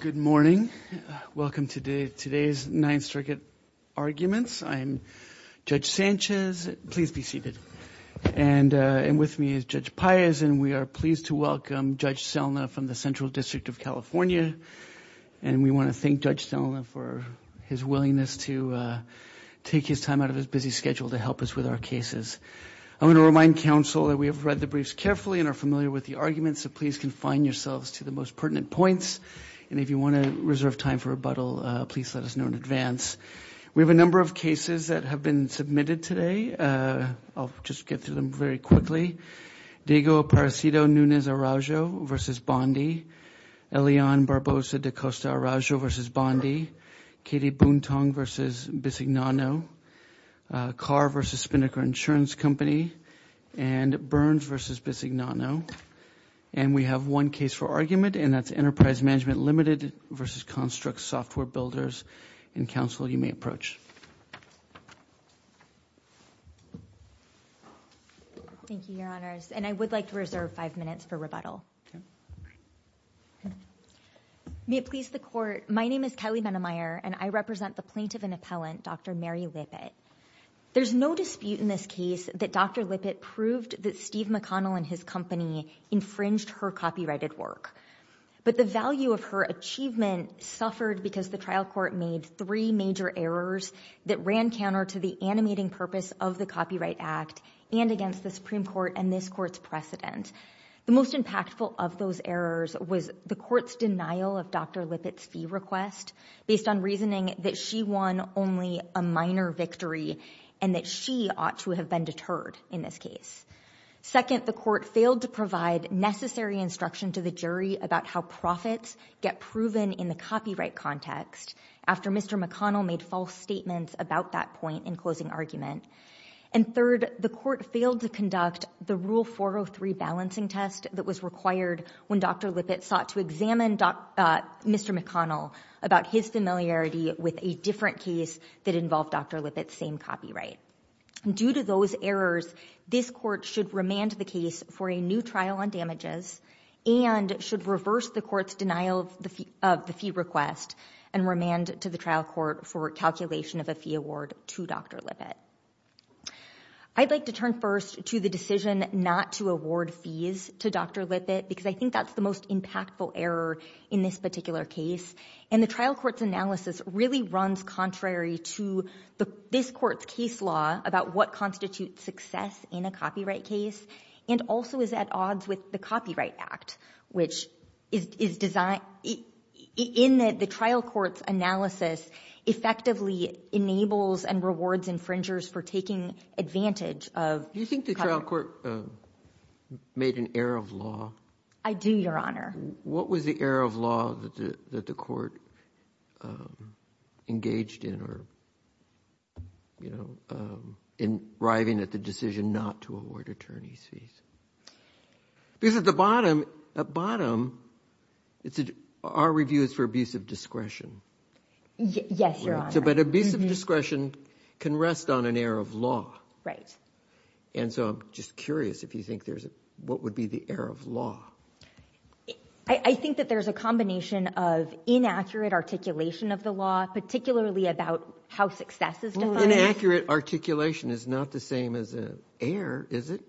Good morning. Welcome to today's Ninth Circuit arguments. I am Judge Sanchez. Please be seated. And with me is Judge Pires, and we are pleased to welcome Judge Selna from the Central District of California. And we want to thank Judge Selna for his willingness to take his time out of his busy schedule to help us with our cases. I want to remind counsel that we have read the briefs carefully and are familiar with the arguments, so please confine yourselves to the most pertinent points, and if you want to reserve time for rebuttal, please let us know in advance. We have a number of cases that have been submitted today. I'll just get through them very quickly. Diego Paracido Nunez Araujo v. Bondi, Elian Barbosa da Costa Araujo v. Bondi, Katie Buntong v. Bisignano, Carr v. Spindaker Insurance Company, and Burns v. Bisignano. And we have one case for argument, and that's Enterprise Management Limited v. Construx Software Builders. And counsel, you may approach. Thank you, Your Honors. And I would like to reserve five minutes for rebuttal. May it please the Court. My name is Kelly Benemeyer, and I represent the plaintiff and appellant, Dr. Mary Lippitt. There's no dispute in this case that Dr. Lippitt proved that Steve McConnell and his company infringed her copyrighted work. But the value of her achievement suffered because the trial court made three major errors that ran counter to the animating purpose of the Copyright Act and against the Supreme Court and this Court's precedent. The most impactful of those errors was the Court's denial of Dr. Lippitt's fee request based on reasoning that she won only a minor victory and that she ought to have been deterred in this case. Second, the Court failed to provide necessary instruction to the jury about how profits get proven in the copyright context after Mr. McConnell made false statements about that point in closing argument. And third, the Court failed to conduct the Rule 403 balancing test that was required when Dr. Lippitt sought to examine Mr. McConnell about his familiarity with a different case that involved Dr. Lippitt's same copyright. Due to those errors, this Court should remand the case for a new trial on damages and should reverse the Court's denial of the fee request and remand to the trial court for calculation of a fee award to Dr. Lippitt. I'd like to turn first to the decision not to award fees to Dr. Lippitt because I think that's the most impactful error in this particular case. And the trial court's analysis really runs contrary to this Court's case law about what constitutes success in a copyright case and also is at odds with the Copyright Act, which is designed – in the trial court's analysis effectively enables and rewards infringers for taking advantage of copyright. Do you think the trial court made an error of law? I do, Your Honor. What was the error of law that the Court engaged in or, you know, in arriving at the decision not to award attorney's fees? Because at the bottom, at bottom, our review is for abuse of discretion. Yes, Your Honor. But abuse of discretion can rest on an error of law. Right. And so I'm just curious if you think there's a – what would be the error of law? I think that there's a combination of inaccurate articulation of the law, particularly about how success is defined. Inaccurate articulation is not the same as an error, is it?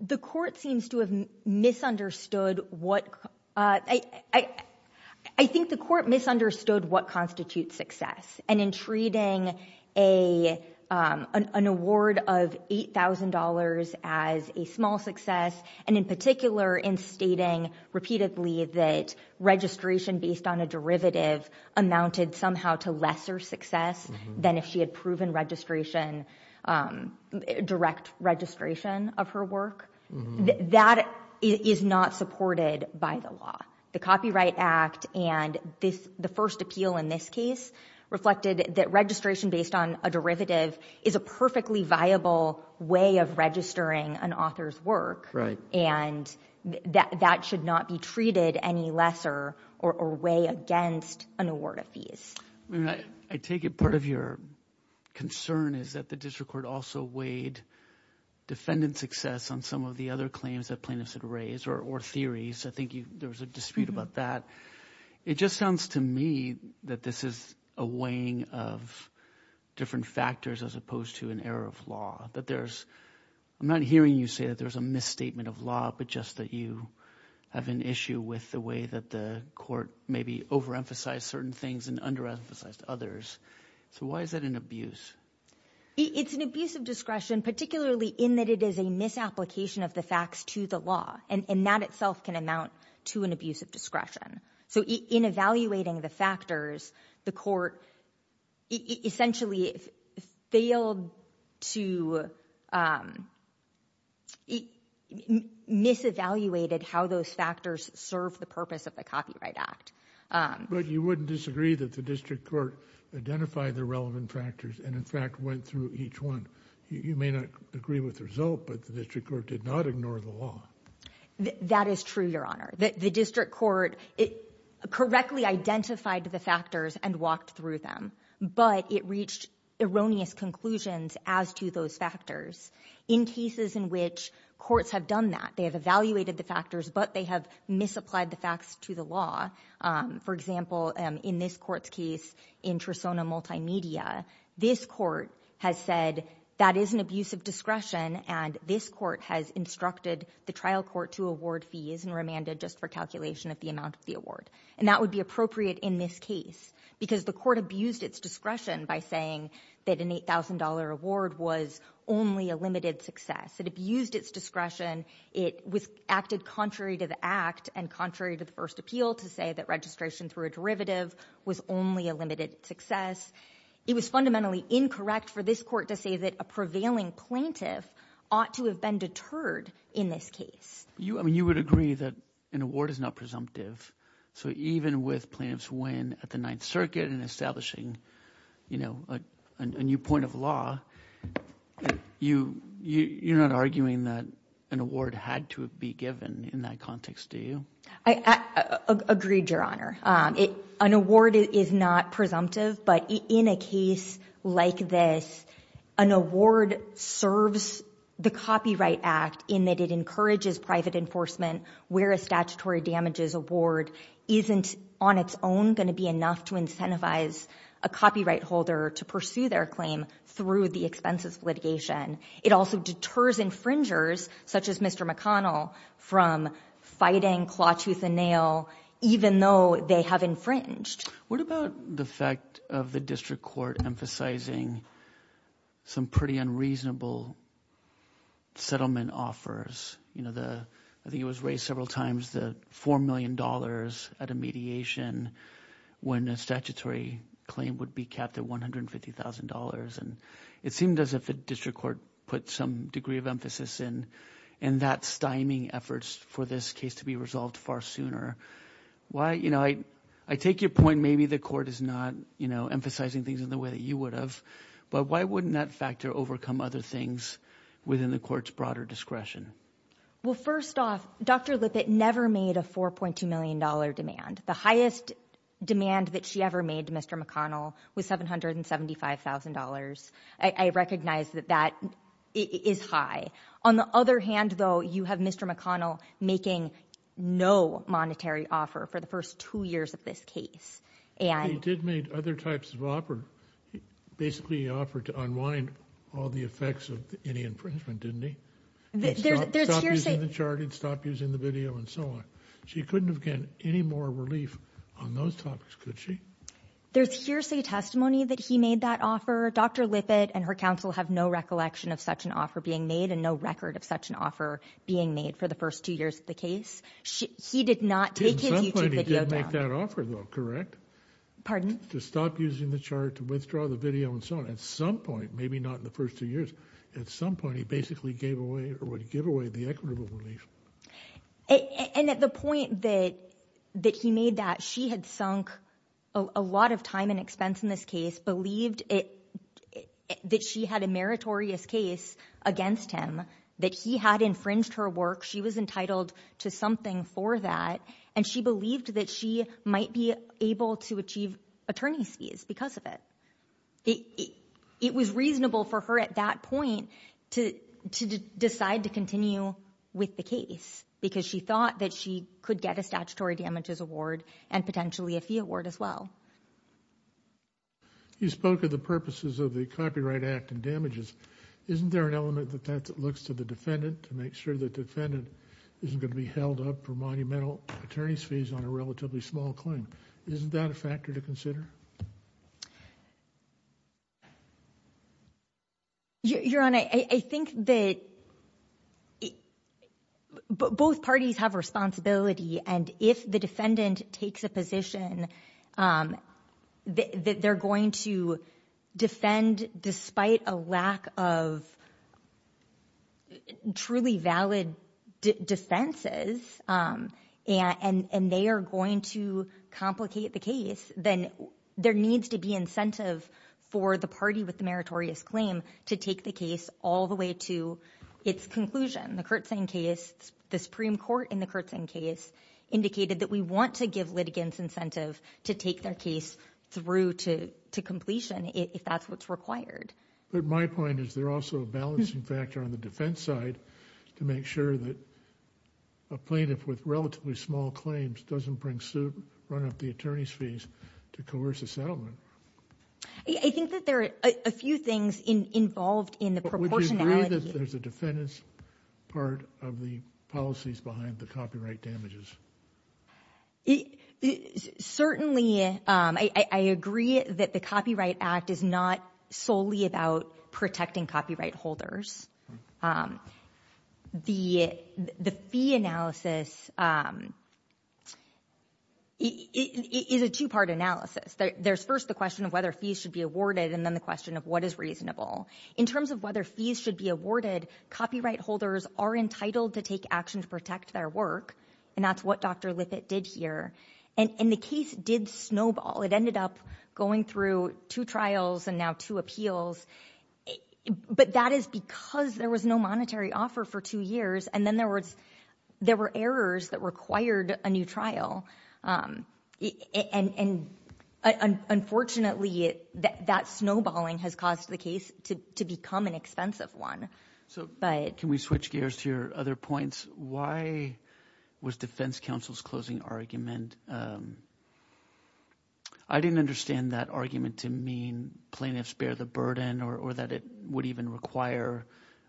The Court seems to have misunderstood what – I think the Court misunderstood what constitutes success and in treating a – an award of $8,000 as a small success and in particular in stating repeatedly that registration based on a derivative amounted somehow to lesser success than if she had proven registration – direct registration of her work. That is not supported by the law. The Copyright Act and this – the first appeal in this case reflected that registration based on a derivative is a perfectly viable way of registering an author's work and that should not be treated any lesser or weigh against an award of fees. I take it part of your concern is that the District Court also weighed defendant success on some of the other claims that plaintiffs had raised or theories. I think you – there was a dispute about that. It just sounds to me that this is a weighing of different factors as opposed to an error of law, that there's – I'm not hearing you say that there's a misstatement of law, but just that you have an issue with the way that the Court maybe overemphasized certain things and under-emphasized others, so why is that an abuse? It's an abuse of discretion, particularly in that it is a misapplication of the facts to the law and that itself can amount to an abuse of discretion. So in evaluating the factors, the Court essentially failed to – mis-evaluated how those factors serve the purpose of the Copyright Act. But you wouldn't disagree that the District Court identified the relevant factors and in fact went through each one. You may not agree with the result, but the District Court did not ignore the law. That is true, Your Honor. The District Court correctly identified the factors and walked through them, but it reached erroneous conclusions as to those factors. In cases in which courts have done that, they have evaluated the factors, but they have misapplied the facts to the law. For example, in this Court's case in Trisona Multimedia, this Court has said that is an abuse of discretion and this Court has instructed the trial court to award fees and remanded just for calculation of the amount of the award. And that would be appropriate in this case because the Court abused its discretion by saying that an $8,000 award was only a limited success. It abused its discretion. It acted contrary to the Act and contrary to the first appeal to say that registration through a derivative was only a limited success. It was fundamentally incorrect for this Court to say that a prevailing plaintiff ought to have been deterred in this case. You would agree that an award is not presumptive. So even with plaintiffs' win at the Ninth Circuit in establishing a new point of law, you're not arguing that an award had to be given in that context, do you? I agreed, Your Honor. An award is not presumptive, but in a case like this, an award serves the Copyright Act in that it encourages private enforcement where a statutory damages award isn't on its own going to be enough to incentivize a copyright holder to pursue their claim through the expenses of litigation. It also deters infringers, such as Mr. McConnell, from fighting claw, tooth, and nail, even though they have infringed. What about the fact of the District Court emphasizing some pretty unreasonable settlement offers? I think it was raised several times, the $4 million at a mediation when a statutory claim would be capped at $150,000. It seemed as if the District Court put some degree of emphasis in that stymie efforts for this case to be resolved far sooner. I take your point maybe the Court is not emphasizing things in the way that you would have, but why wouldn't that factor overcome other things within the Court's broader discretion? Well, first off, Dr. Lippitt never made a $4.2 million demand. The highest demand that she ever made to Mr. McConnell was $775,000. I recognize that that is high. On the other hand, though, you have Mr. McConnell making no monetary offer for the first two years of this case. He did make other types of offers. Basically, he offered to unwind all the effects of any infringement, didn't he? Stop using the chart, stop using the video, and so on. She couldn't have gotten any more relief on those topics, could she? There's hearsay testimony that he made that offer. Dr. Lippitt and her counsel have no recollection of such an offer being made and no record of such an offer being made for the first two years of the case. He did not take his YouTube video down. He did make that offer, though, correct? To stop using the chart, to withdraw the video, and so on. At some point, maybe not in the first two years, at some point he basically gave away or would give away the equitable relief. And at the point that he made that, she had sunk a lot of time and expense in this case, believed that she had a meritorious case against him, that he had infringed her work. She was entitled to something for that. And she believed that she might be able to achieve attorney's fees because of it. It was reasonable for her at that point to decide to continue with the case because she thought that she could get a statutory damages award and potentially a fee award as well. You spoke of the purposes of the Copyright Act and damages. Isn't there an element of that that looks to the defendant to make sure the defendant isn't going to be held up for monumental attorney's fees on a relatively small claim? Isn't that a factor to consider? Your Honor, I think that both parties have responsibility, and if the defendant takes a position that they're going to defend despite a lack of truly valid defenses, and they are going to complicate the case, then there needs to be incentive for the party with the meritorious claim to take the case all the way to its conclusion. The Kirtzian case, the Supreme Court in the Kirtzian case indicated that we want to give litigants incentive to take their case through to completion if that's what's required. But my point is there's also a balancing factor on the defense side to make sure that a plaintiff with relatively small claims doesn't bring suit, run up the attorney's fees to coerce a settlement. I think that there are a few things involved in the proportionality. Do you agree that there's a defendant's part of the policies behind the copyright damages? Certainly, I agree that the Copyright Act is not solely about protecting copyright holders. The fee analysis is a two-part analysis. There's first the question of whether fees should be awarded, and then the question of what is reasonable. In terms of whether fees should be awarded, copyright holders are entitled to take action to protect their work, and that's what Dr. Lippitt did here. And the case did snowball. It ended up going through two trials and now two appeals, but that is because there was no monetary offer for two years, and then there were errors that required a new trial. Unfortunately, that snowballing has caused the case to become an expensive one. Can we switch gears to your other points? Why was defense counsel's closing argument... I didn't understand that argument to mean plaintiffs bear the burden or that it would even require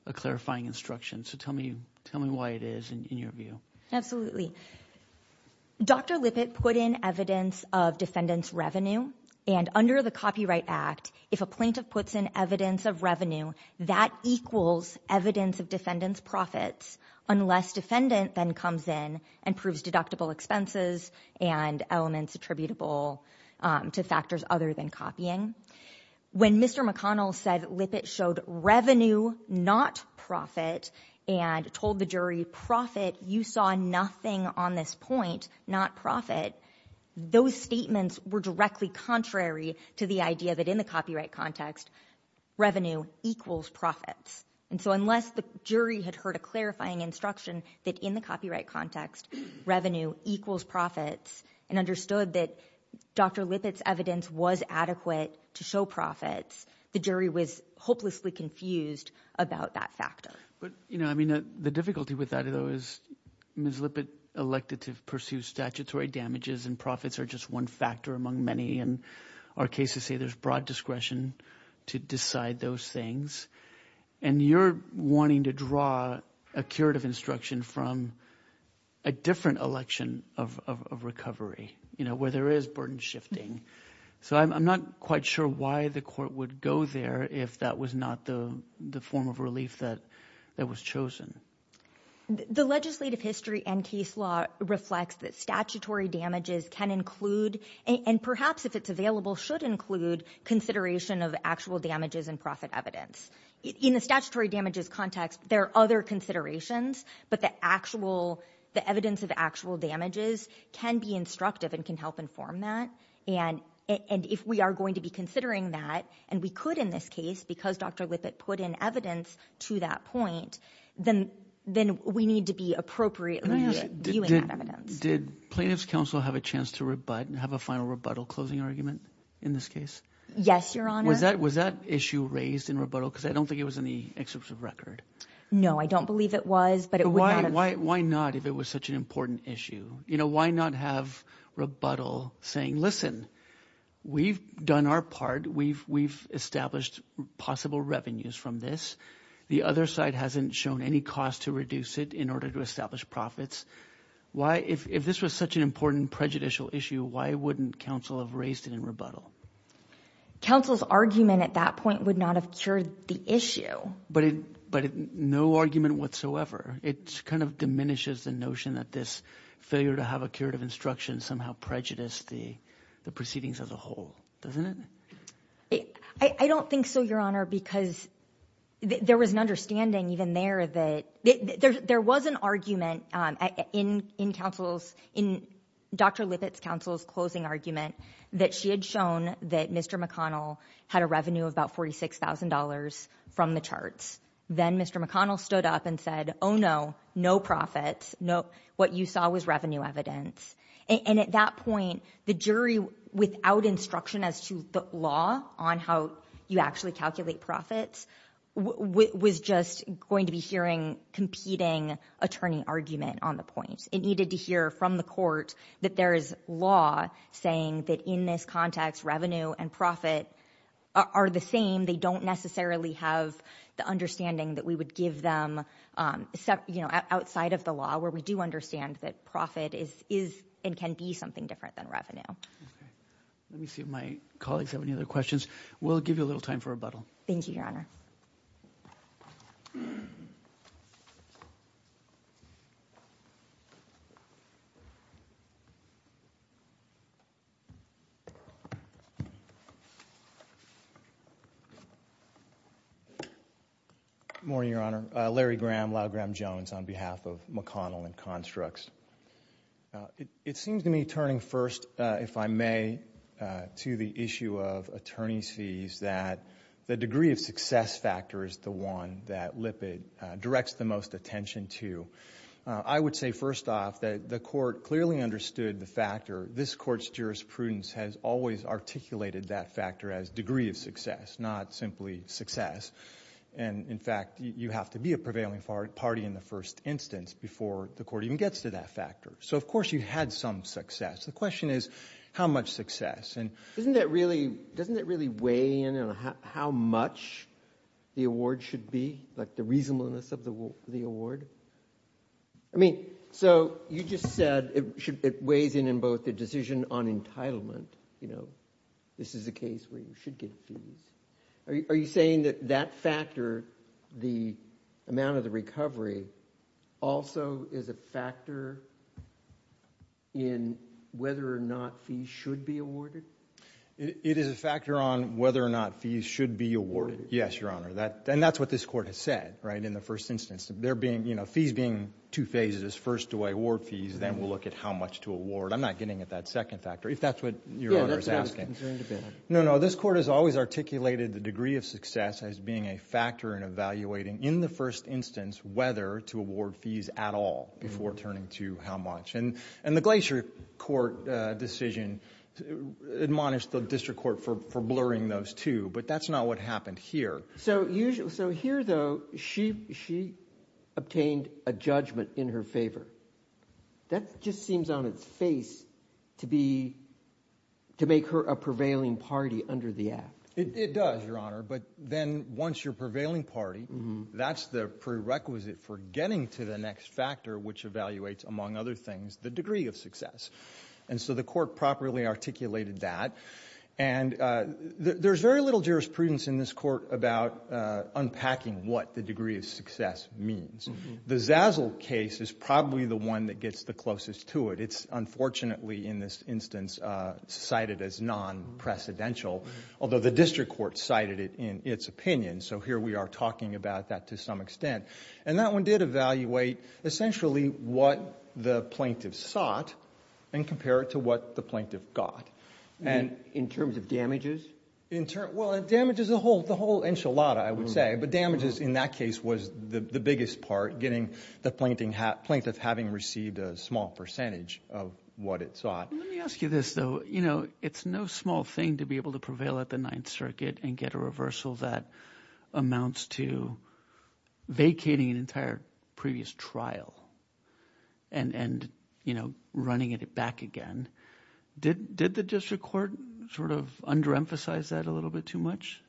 a clarifying instruction, so tell me why it is in your view. Absolutely. Dr. Lippitt put in evidence of defendant's revenue, and under the Copyright Act, if a plaintiff puts in evidence of revenue, that equals evidence of defendant's profits unless defendant then comes in and proves deductible expenses and elements attributable to factors other than copying. When Mr. McConnell said that Lippitt showed revenue, not profit, and told the jury, profit, you saw nothing on this point, not profit, those statements were directly contrary to the idea that in the copyright context, revenue equals profits. And so unless the jury had heard a clarifying instruction that in the copyright context, revenue equals profits, and understood that Dr. Lippitt's evidence was adequate to show profits, the jury was hopelessly confused about that factor. But the difficulty with that, though, is Ms. Lippitt elected to pursue statutory damages and profits are just one factor among many, and our cases say there's broad discretion to decide those things, and you're wanting to draw a curative instruction from a different election of recovery, where there is burden shifting. So I'm not quite sure why the court would go there if that was not the form of relief that was chosen. The legislative history and case law reflects that statutory damages can include, and perhaps if it's available, should include consideration of actual damages and profit evidence. In the statutory damages context, there are other considerations, but the evidence of actual damages can be instructive and can help inform that. And if we are going to be considering that, and we could in this case because Dr. Lippitt put in evidence to that point, then we need to be appropriately viewing that evidence. Did plaintiff's counsel have a chance to rebut and have a final rebuttal closing argument in this case? Yes, your honor. Was that issue raised in rebuttal, because I don't think it was in the excerpt of record. No, I don't believe it was, but it would not have. Why not if it was such an important issue? You know, why not have rebuttal saying, listen, we've done our part, we've established possible revenues from this. The other side hasn't shown any cost to reduce it in order to establish profits. Why if this was such an important prejudicial issue, why wouldn't counsel have raised it in rebuttal? Counsel's argument at that point would not have cured the issue. But no argument whatsoever. It kind of diminishes the notion that this failure to have a curative instruction somehow prejudiced the proceedings as a whole, doesn't it? I don't think so, your honor, because there was an understanding even there that there was an argument in counsel's, in Dr. Lippitt's counsel's closing argument that she had shown that Mr. McConnell had a revenue of about $46,000 from the charts. Then Mr. McConnell stood up and said, oh no, no profits. What you saw was revenue evidence. And at that point, the jury without instruction as to the law on how you actually calculate profits was just going to be hearing competing attorney argument on the point. It needed to hear from the court that there is law saying that in this context, revenue and profit are the same. They don't necessarily have the understanding that we would give them, you know, outside of the law where we do understand that profit is, is, and can be something different than Let me see if my colleagues have any other questions. We'll give you a little time for rebuttal. Thank you, your honor. Good morning, your honor. Larry Graham, Lyle Graham-Jones on behalf of McConnell and Constructs. It seems to me turning first, if I may, to the issue of attorney's fees that the degree of success factor is the one that Lippitt directs the most attention to. I would say first off that the court clearly understood the factor. This court's jurisprudence has always articulated that factor as degree of success, not simply success. And in fact, you have to be a prevailing party in the first instance before the court even gets to that factor. So, of course, you had some success. The question is, how much success? And isn't that really, doesn't it really weigh in on how much the award should be, like the reasonableness of the award? I mean, so you just said it should, it weighs in, in both the decision on entitlement, you know, this is a case where you should get fees. Are you saying that that factor, the amount of the recovery, also is a factor in whether or not fees should be awarded? It is a factor on whether or not fees should be awarded, yes, Your Honor. And that's what this court has said, right, in the first instance. There being, you know, fees being two phases. First do I award fees, then we'll look at how much to award. I'm not getting at that second factor, if that's what Your Honor is asking. Yeah, that's what I was concerned about. No, no, this court has always articulated the degree of success as being a factor in evaluating, in the first instance, whether to award fees at all, before turning to how much. And the Glacier Court decision admonished the district court for blurring those two, but that's not what happened here. So here, though, she obtained a judgment in her favor. That just seems on its face to be, to make her a prevailing party under the Act. It does, Your Honor, but then once you're a prevailing party, that's the prerequisite for getting to the next factor, which evaluates, among other things, the degree of success. And so the court properly articulated that. And there's very little jurisprudence in this court about unpacking what the degree of success means. The Zazzle case is probably the one that gets the closest to it. It's unfortunately, in this instance, cited as non-precedential, although the district court cited it in its opinion. So here we are talking about that to some extent. And that one did evaluate, essentially, what the plaintiff sought and compare it to what the plaintiff got. And in terms of damages? Well, in damages, the whole enchilada, I would say. But damages, in that case, was the biggest part, getting the plaintiff having received a small percentage of what it sought. Let me ask you this, though. It's no small thing to be able to prevail at the Ninth Circuit and get a reversal that amounts to vacating an entire previous trial and running it back again. Did the district court sort of underemphasize that a little bit too much?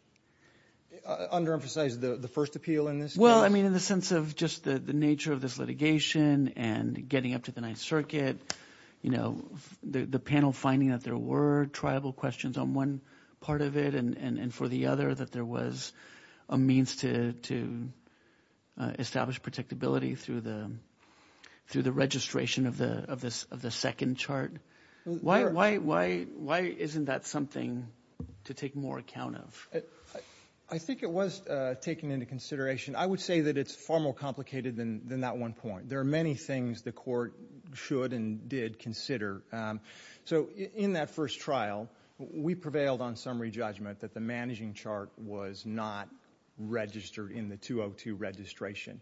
Underemphasize the first appeal in this case? Well, I mean, in the sense of just the nature of this litigation and getting up to the Ninth Circuit, you know, the panel finding that there were triable questions on one part of it and for the other, that there was a means to establish protectability through the registration of the second chart. Why isn't that something to take more account of? I think it was taken into consideration. I would say that it's far more complicated than that one point. There are many things the court should and did consider. So in that first trial, we prevailed on summary judgment that the managing chart was not registered in the 202 registration.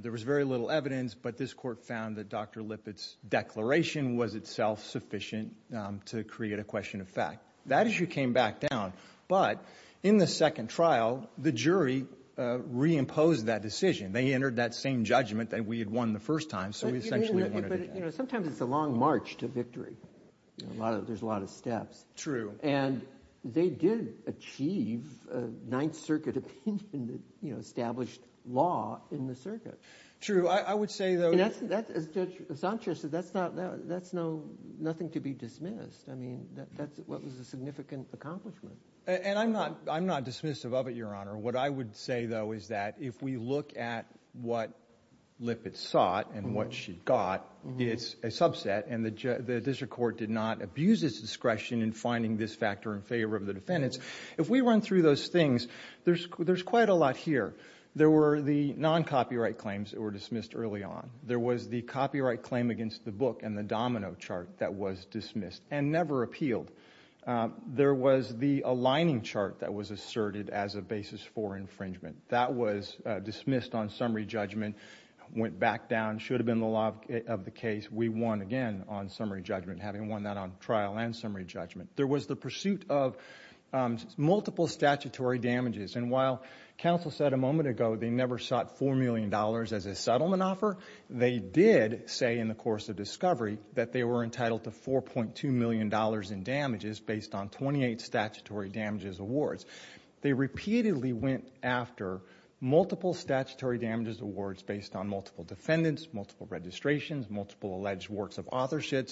There was very little evidence, but this court found that Dr. Lippitt's declaration was itself sufficient to create a question of fact. That issue came back down. But in the second trial, the jury reimposed that decision. They entered that same judgment that we had won the first time, so we essentially entered it again. But, you know, sometimes it's a long march to victory. There's a lot of steps. True. And they did achieve a Ninth Circuit opinion that, you know, established law in the circuit. True. I would say, though— As Judge Sanchez said, that's nothing to be dismissed. I mean, that was a significant accomplishment. And I'm not dismissive of it, Your Honor. What I would say, though, is that if we look at what Lippitt sought and what she got, it's a subset, and the district court did not abuse its discretion in finding this factor in favor of the defendants. If we run through those things, there's quite a lot here. There were the non-copyright claims that were dismissed early on. There was the copyright claim against the book and the domino chart that was dismissed and never appealed. There was the aligning chart that was asserted as a basis for infringement. That was dismissed on summary judgment, went back down, should have been the law of the case. We won again on summary judgment, having won that on trial and summary judgment. There was the pursuit of multiple statutory damages. And while counsel said a moment ago they never sought $4 million as a settlement offer, they did say in the course of discovery that they were entitled to $4.2 million in damages based on 28 statutory damages awards. They repeatedly went after multiple statutory damages awards based on multiple defendants, multiple registrations, multiple alleged works of authorship,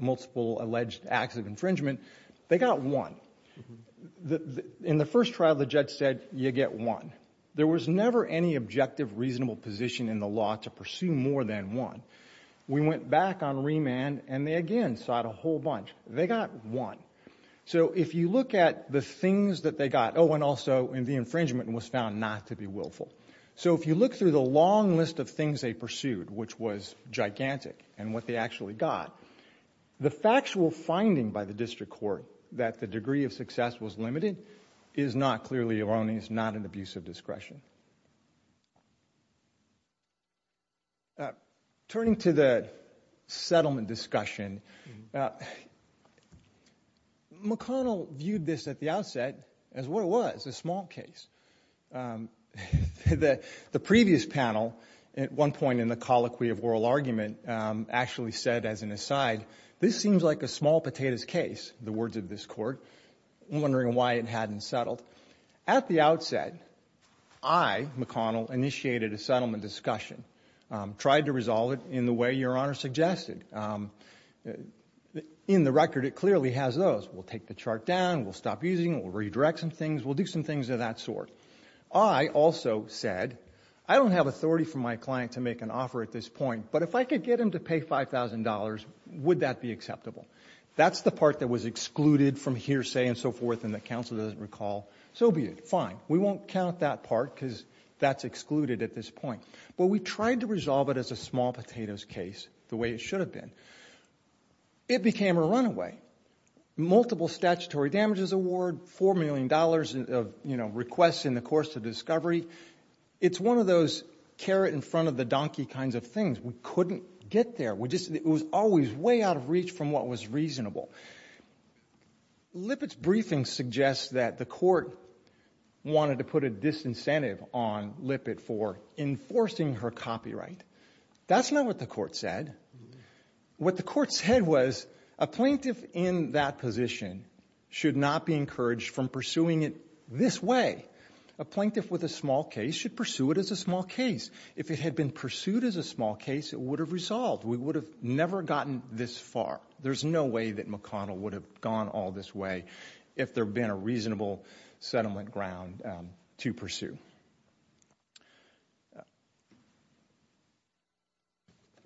multiple alleged acts of infringement. They got one. In the first trial, the judge said, you get one. There was never any objective reasonable position in the law to pursue more than one. We went back on remand and they again sought a whole bunch. They got one. So if you look at the things that they got, oh, and also the infringement was found not to be willful. So if you look through the long list of things they pursued, which was gigantic and what they actually got, the factual finding by the district court that the degree of success was limited is not clearly erroneous, not an abuse of discretion. Turning to the settlement discussion, McConnell viewed this at the outset as what it was, a small case. The previous panel at one point in the colloquy of oral argument actually said as an aside, this seems like a small potatoes case, the words of this court, wondering why it hadn't settled. At the outset, I, McConnell, initiated a settlement discussion, tried to resolve it in the way Your Honor suggested. In the record, it clearly has those. We'll take the chart down. We'll stop using it. We'll redirect some things. We'll do some things of that sort. I also said, I don't have authority from my client to make an offer at this point, but if I could get him to pay $5,000, would that be acceptable? That's the part that was excluded from hearsay and so forth and the counsel doesn't recall. So be it. Fine. We won't count that part because that's excluded at this point. But we tried to resolve it as a small potatoes case the way it should have been. It became a runaway. Multiple statutory damages award, $4 million of requests in the course of discovery. It's one of those carrot in front of the donkey kinds of things. We couldn't get there. We just, it was always way out of reach from what was reasonable. Lippitt's briefing suggests that the court wanted to put a disincentive on Lippitt for enforcing her copyright. That's not what the court said. What the court said was, a plaintiff in that position should not be encouraged from pursuing it this way. A plaintiff with a small case should pursue it as a small case. If it had been pursued as a small case, it would have resolved. We would have never gotten this far. There's no way that McConnell would have gone all this way if there had been a reasonable settlement ground to pursue.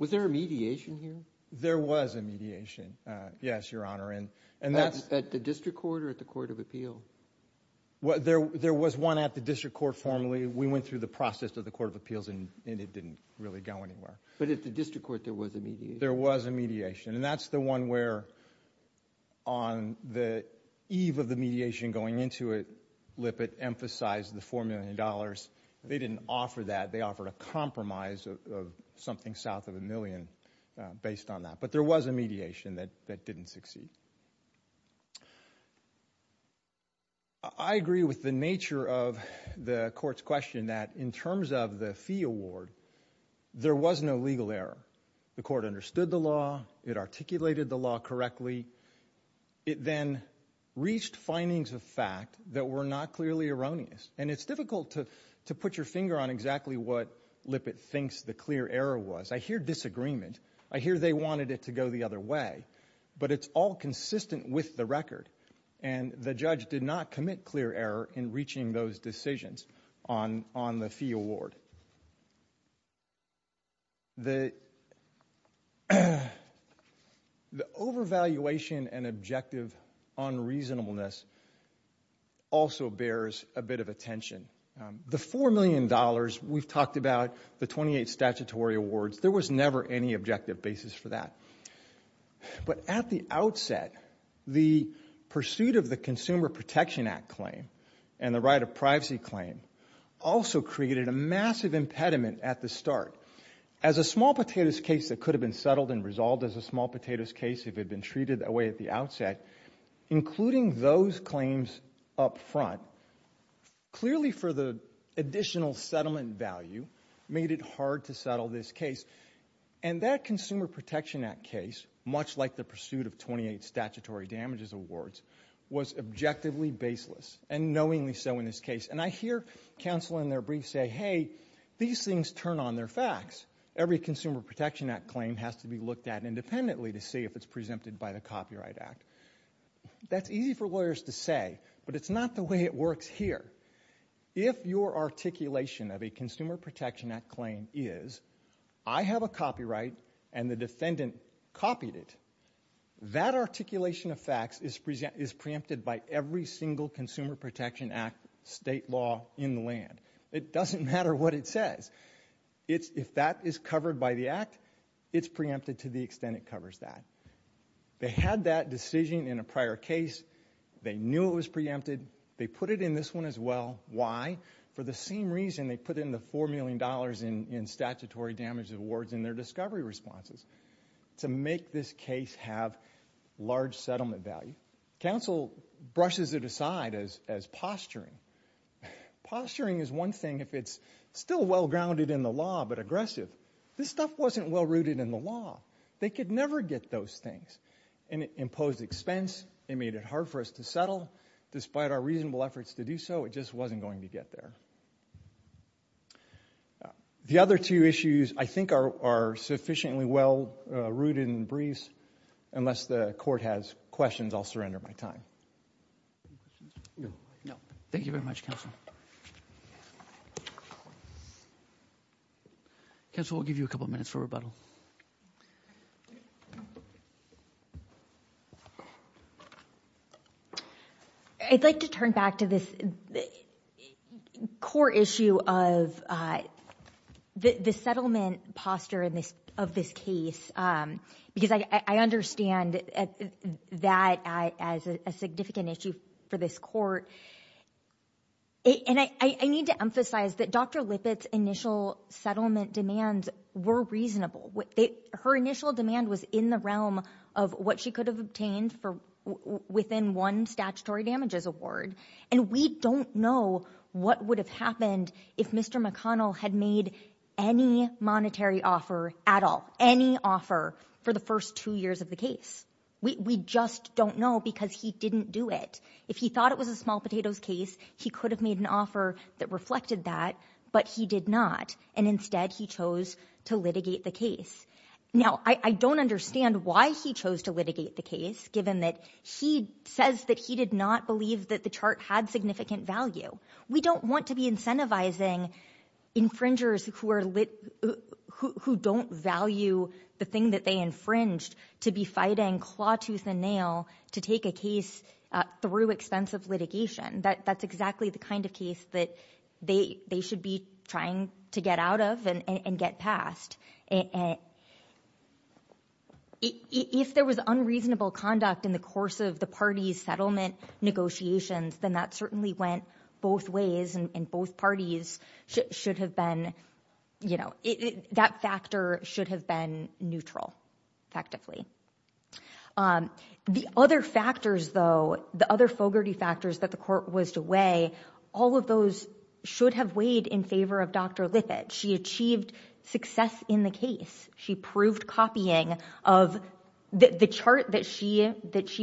Was there a mediation here? There was a mediation, yes, Your Honor. At the District Court or at the Court of Appeal? There was one at the District Court formally. We went through the process of the Court of Appeals and it didn't really go anywhere. But at the District Court there was a mediation? There was a mediation. And that's the one where on the eve of the mediation going into it, Lippitt emphasized the $4 million. They didn't offer that. They offered a compromise of something south of a million based on that. But there was a mediation that didn't succeed. I agree with the nature of the court's question that in terms of the fee award, there was no legal error. The court understood the law. It articulated the law correctly. Unfortunately, it then reached findings of fact that were not clearly erroneous. And it's difficult to put your finger on exactly what Lippitt thinks the clear error was. I hear disagreement. I hear they wanted it to go the other way. But it's all consistent with the record. And the judge did not commit clear error in reaching those decisions on the fee award. The overvaluation and objective unreasonableness also bears a bit of attention. The $4 million, we've talked about the 28 statutory awards. There was never any objective basis for that. But at the outset, the pursuit of the Consumer Protection Act claim and the right of privacy claim also created a massive impediment at the start. As a small potatoes case that could have been settled and resolved as a small potatoes case if it had been treated that way at the outset, including those claims up front, clearly for the additional settlement value made it hard to settle this case. And that Consumer Protection Act case, much like the pursuit of 28 statutory damages awards, was objectively baseless, and knowingly so in this case. And I hear counsel in their brief say, hey, these things turn on their facts. Every Consumer Protection Act claim has to be looked at independently to see if it's preempted by the Copyright Act. That's easy for lawyers to say, but it's not the way it works here. If your articulation of a Consumer Protection Act claim is, I have a copyright and the defendant copied it, that articulation of facts is preempted by every single Consumer Protection Act state law in the land. It doesn't matter what it says. If that is covered by the Act, it's preempted to the extent it covers that. They had that decision in a prior case. They knew it was preempted. They put it in this one as well. Why? For the same reason they put in the $4 million in statutory damage awards in their discovery responses to make this case have large settlement value. Counsel brushes it aside as posturing. Posturing is one thing if it's still well-grounded in the law, but aggressive. This stuff wasn't well-rooted in the law. They could never get those things. And it imposed expense. It made it hard for us to settle. Despite our reasonable efforts to do so, it just wasn't going to get there. The other two issues I think are sufficiently well-rooted in the briefs, unless the Court has questions, I'll surrender my time. Thank you very much, Counsel. Counsel, we'll give you a couple of minutes for rebuttal. I'd like to turn back to this core issue of the settlement posture of this case because I understand that as a significant issue for this Court. And I need to emphasize that Dr. Lippitt's initial settlement demands were reasonable. Her initial demand was in the realm of what she could have obtained within one statutory damages award. And we don't know what would have happened if Mr. McConnell had made any monetary offer at all, any offer for the first two years of the case. We just don't know because he didn't do it. If he thought it was a small potatoes case, he could have made an offer that reflected that, but he did not. And instead, he chose to litigate the case. Now, I don't understand why he chose to litigate the case, given that he says that he did not believe that the chart had significant value. We don't want to be incentivizing infringers who don't value the thing that they infringed to be fighting claw, tooth, and nail to take a case through expensive litigation. That's exactly the kind of case that they should be trying to get out of and get past. If there was unreasonable conduct in the course of the party's settlement negotiations, then that certainly went both ways and both parties should have been, you know, that factor should have been neutral, effectively. The other factors, though, the other fogarty factors that the court was to weigh, all of those should have weighed in favor of Dr. Lippitt. She achieved success in the case. She proved copying of the chart that she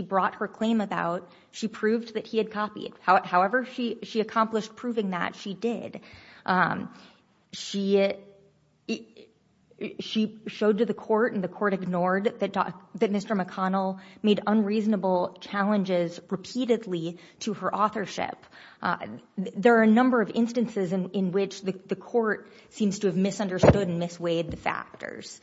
brought her claim about. She proved that he had copied. However she accomplished proving that, she did. She showed to the court and the court ignored that Mr. McConnell made unreasonable challenges repeatedly to her authorship. There are a number of instances in which the court seems to have misunderstood and misweighed the factors.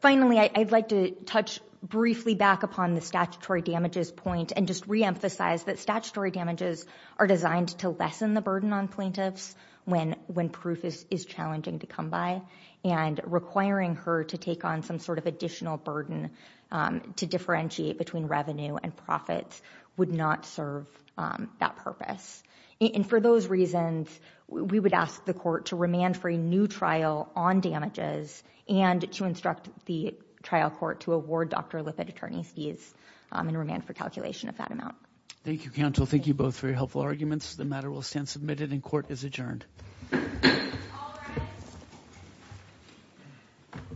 Finally, I'd like to touch briefly back upon the statutory damages point and just reemphasize that statutory damages are designed to lessen the burden on plaintiffs when proof is challenging to come by and requiring her to take on some sort of additional burden to differentiate between revenue and profits would not serve that purpose. For those reasons, we would ask the court to remand for a new trial on damages and to instruct the trial court to award Dr. Lippitt attorney's fees and remand for calculation of that amount. Thank you counsel. Thank you both for your helpful arguments. The matter will stand submitted and court is adjourned.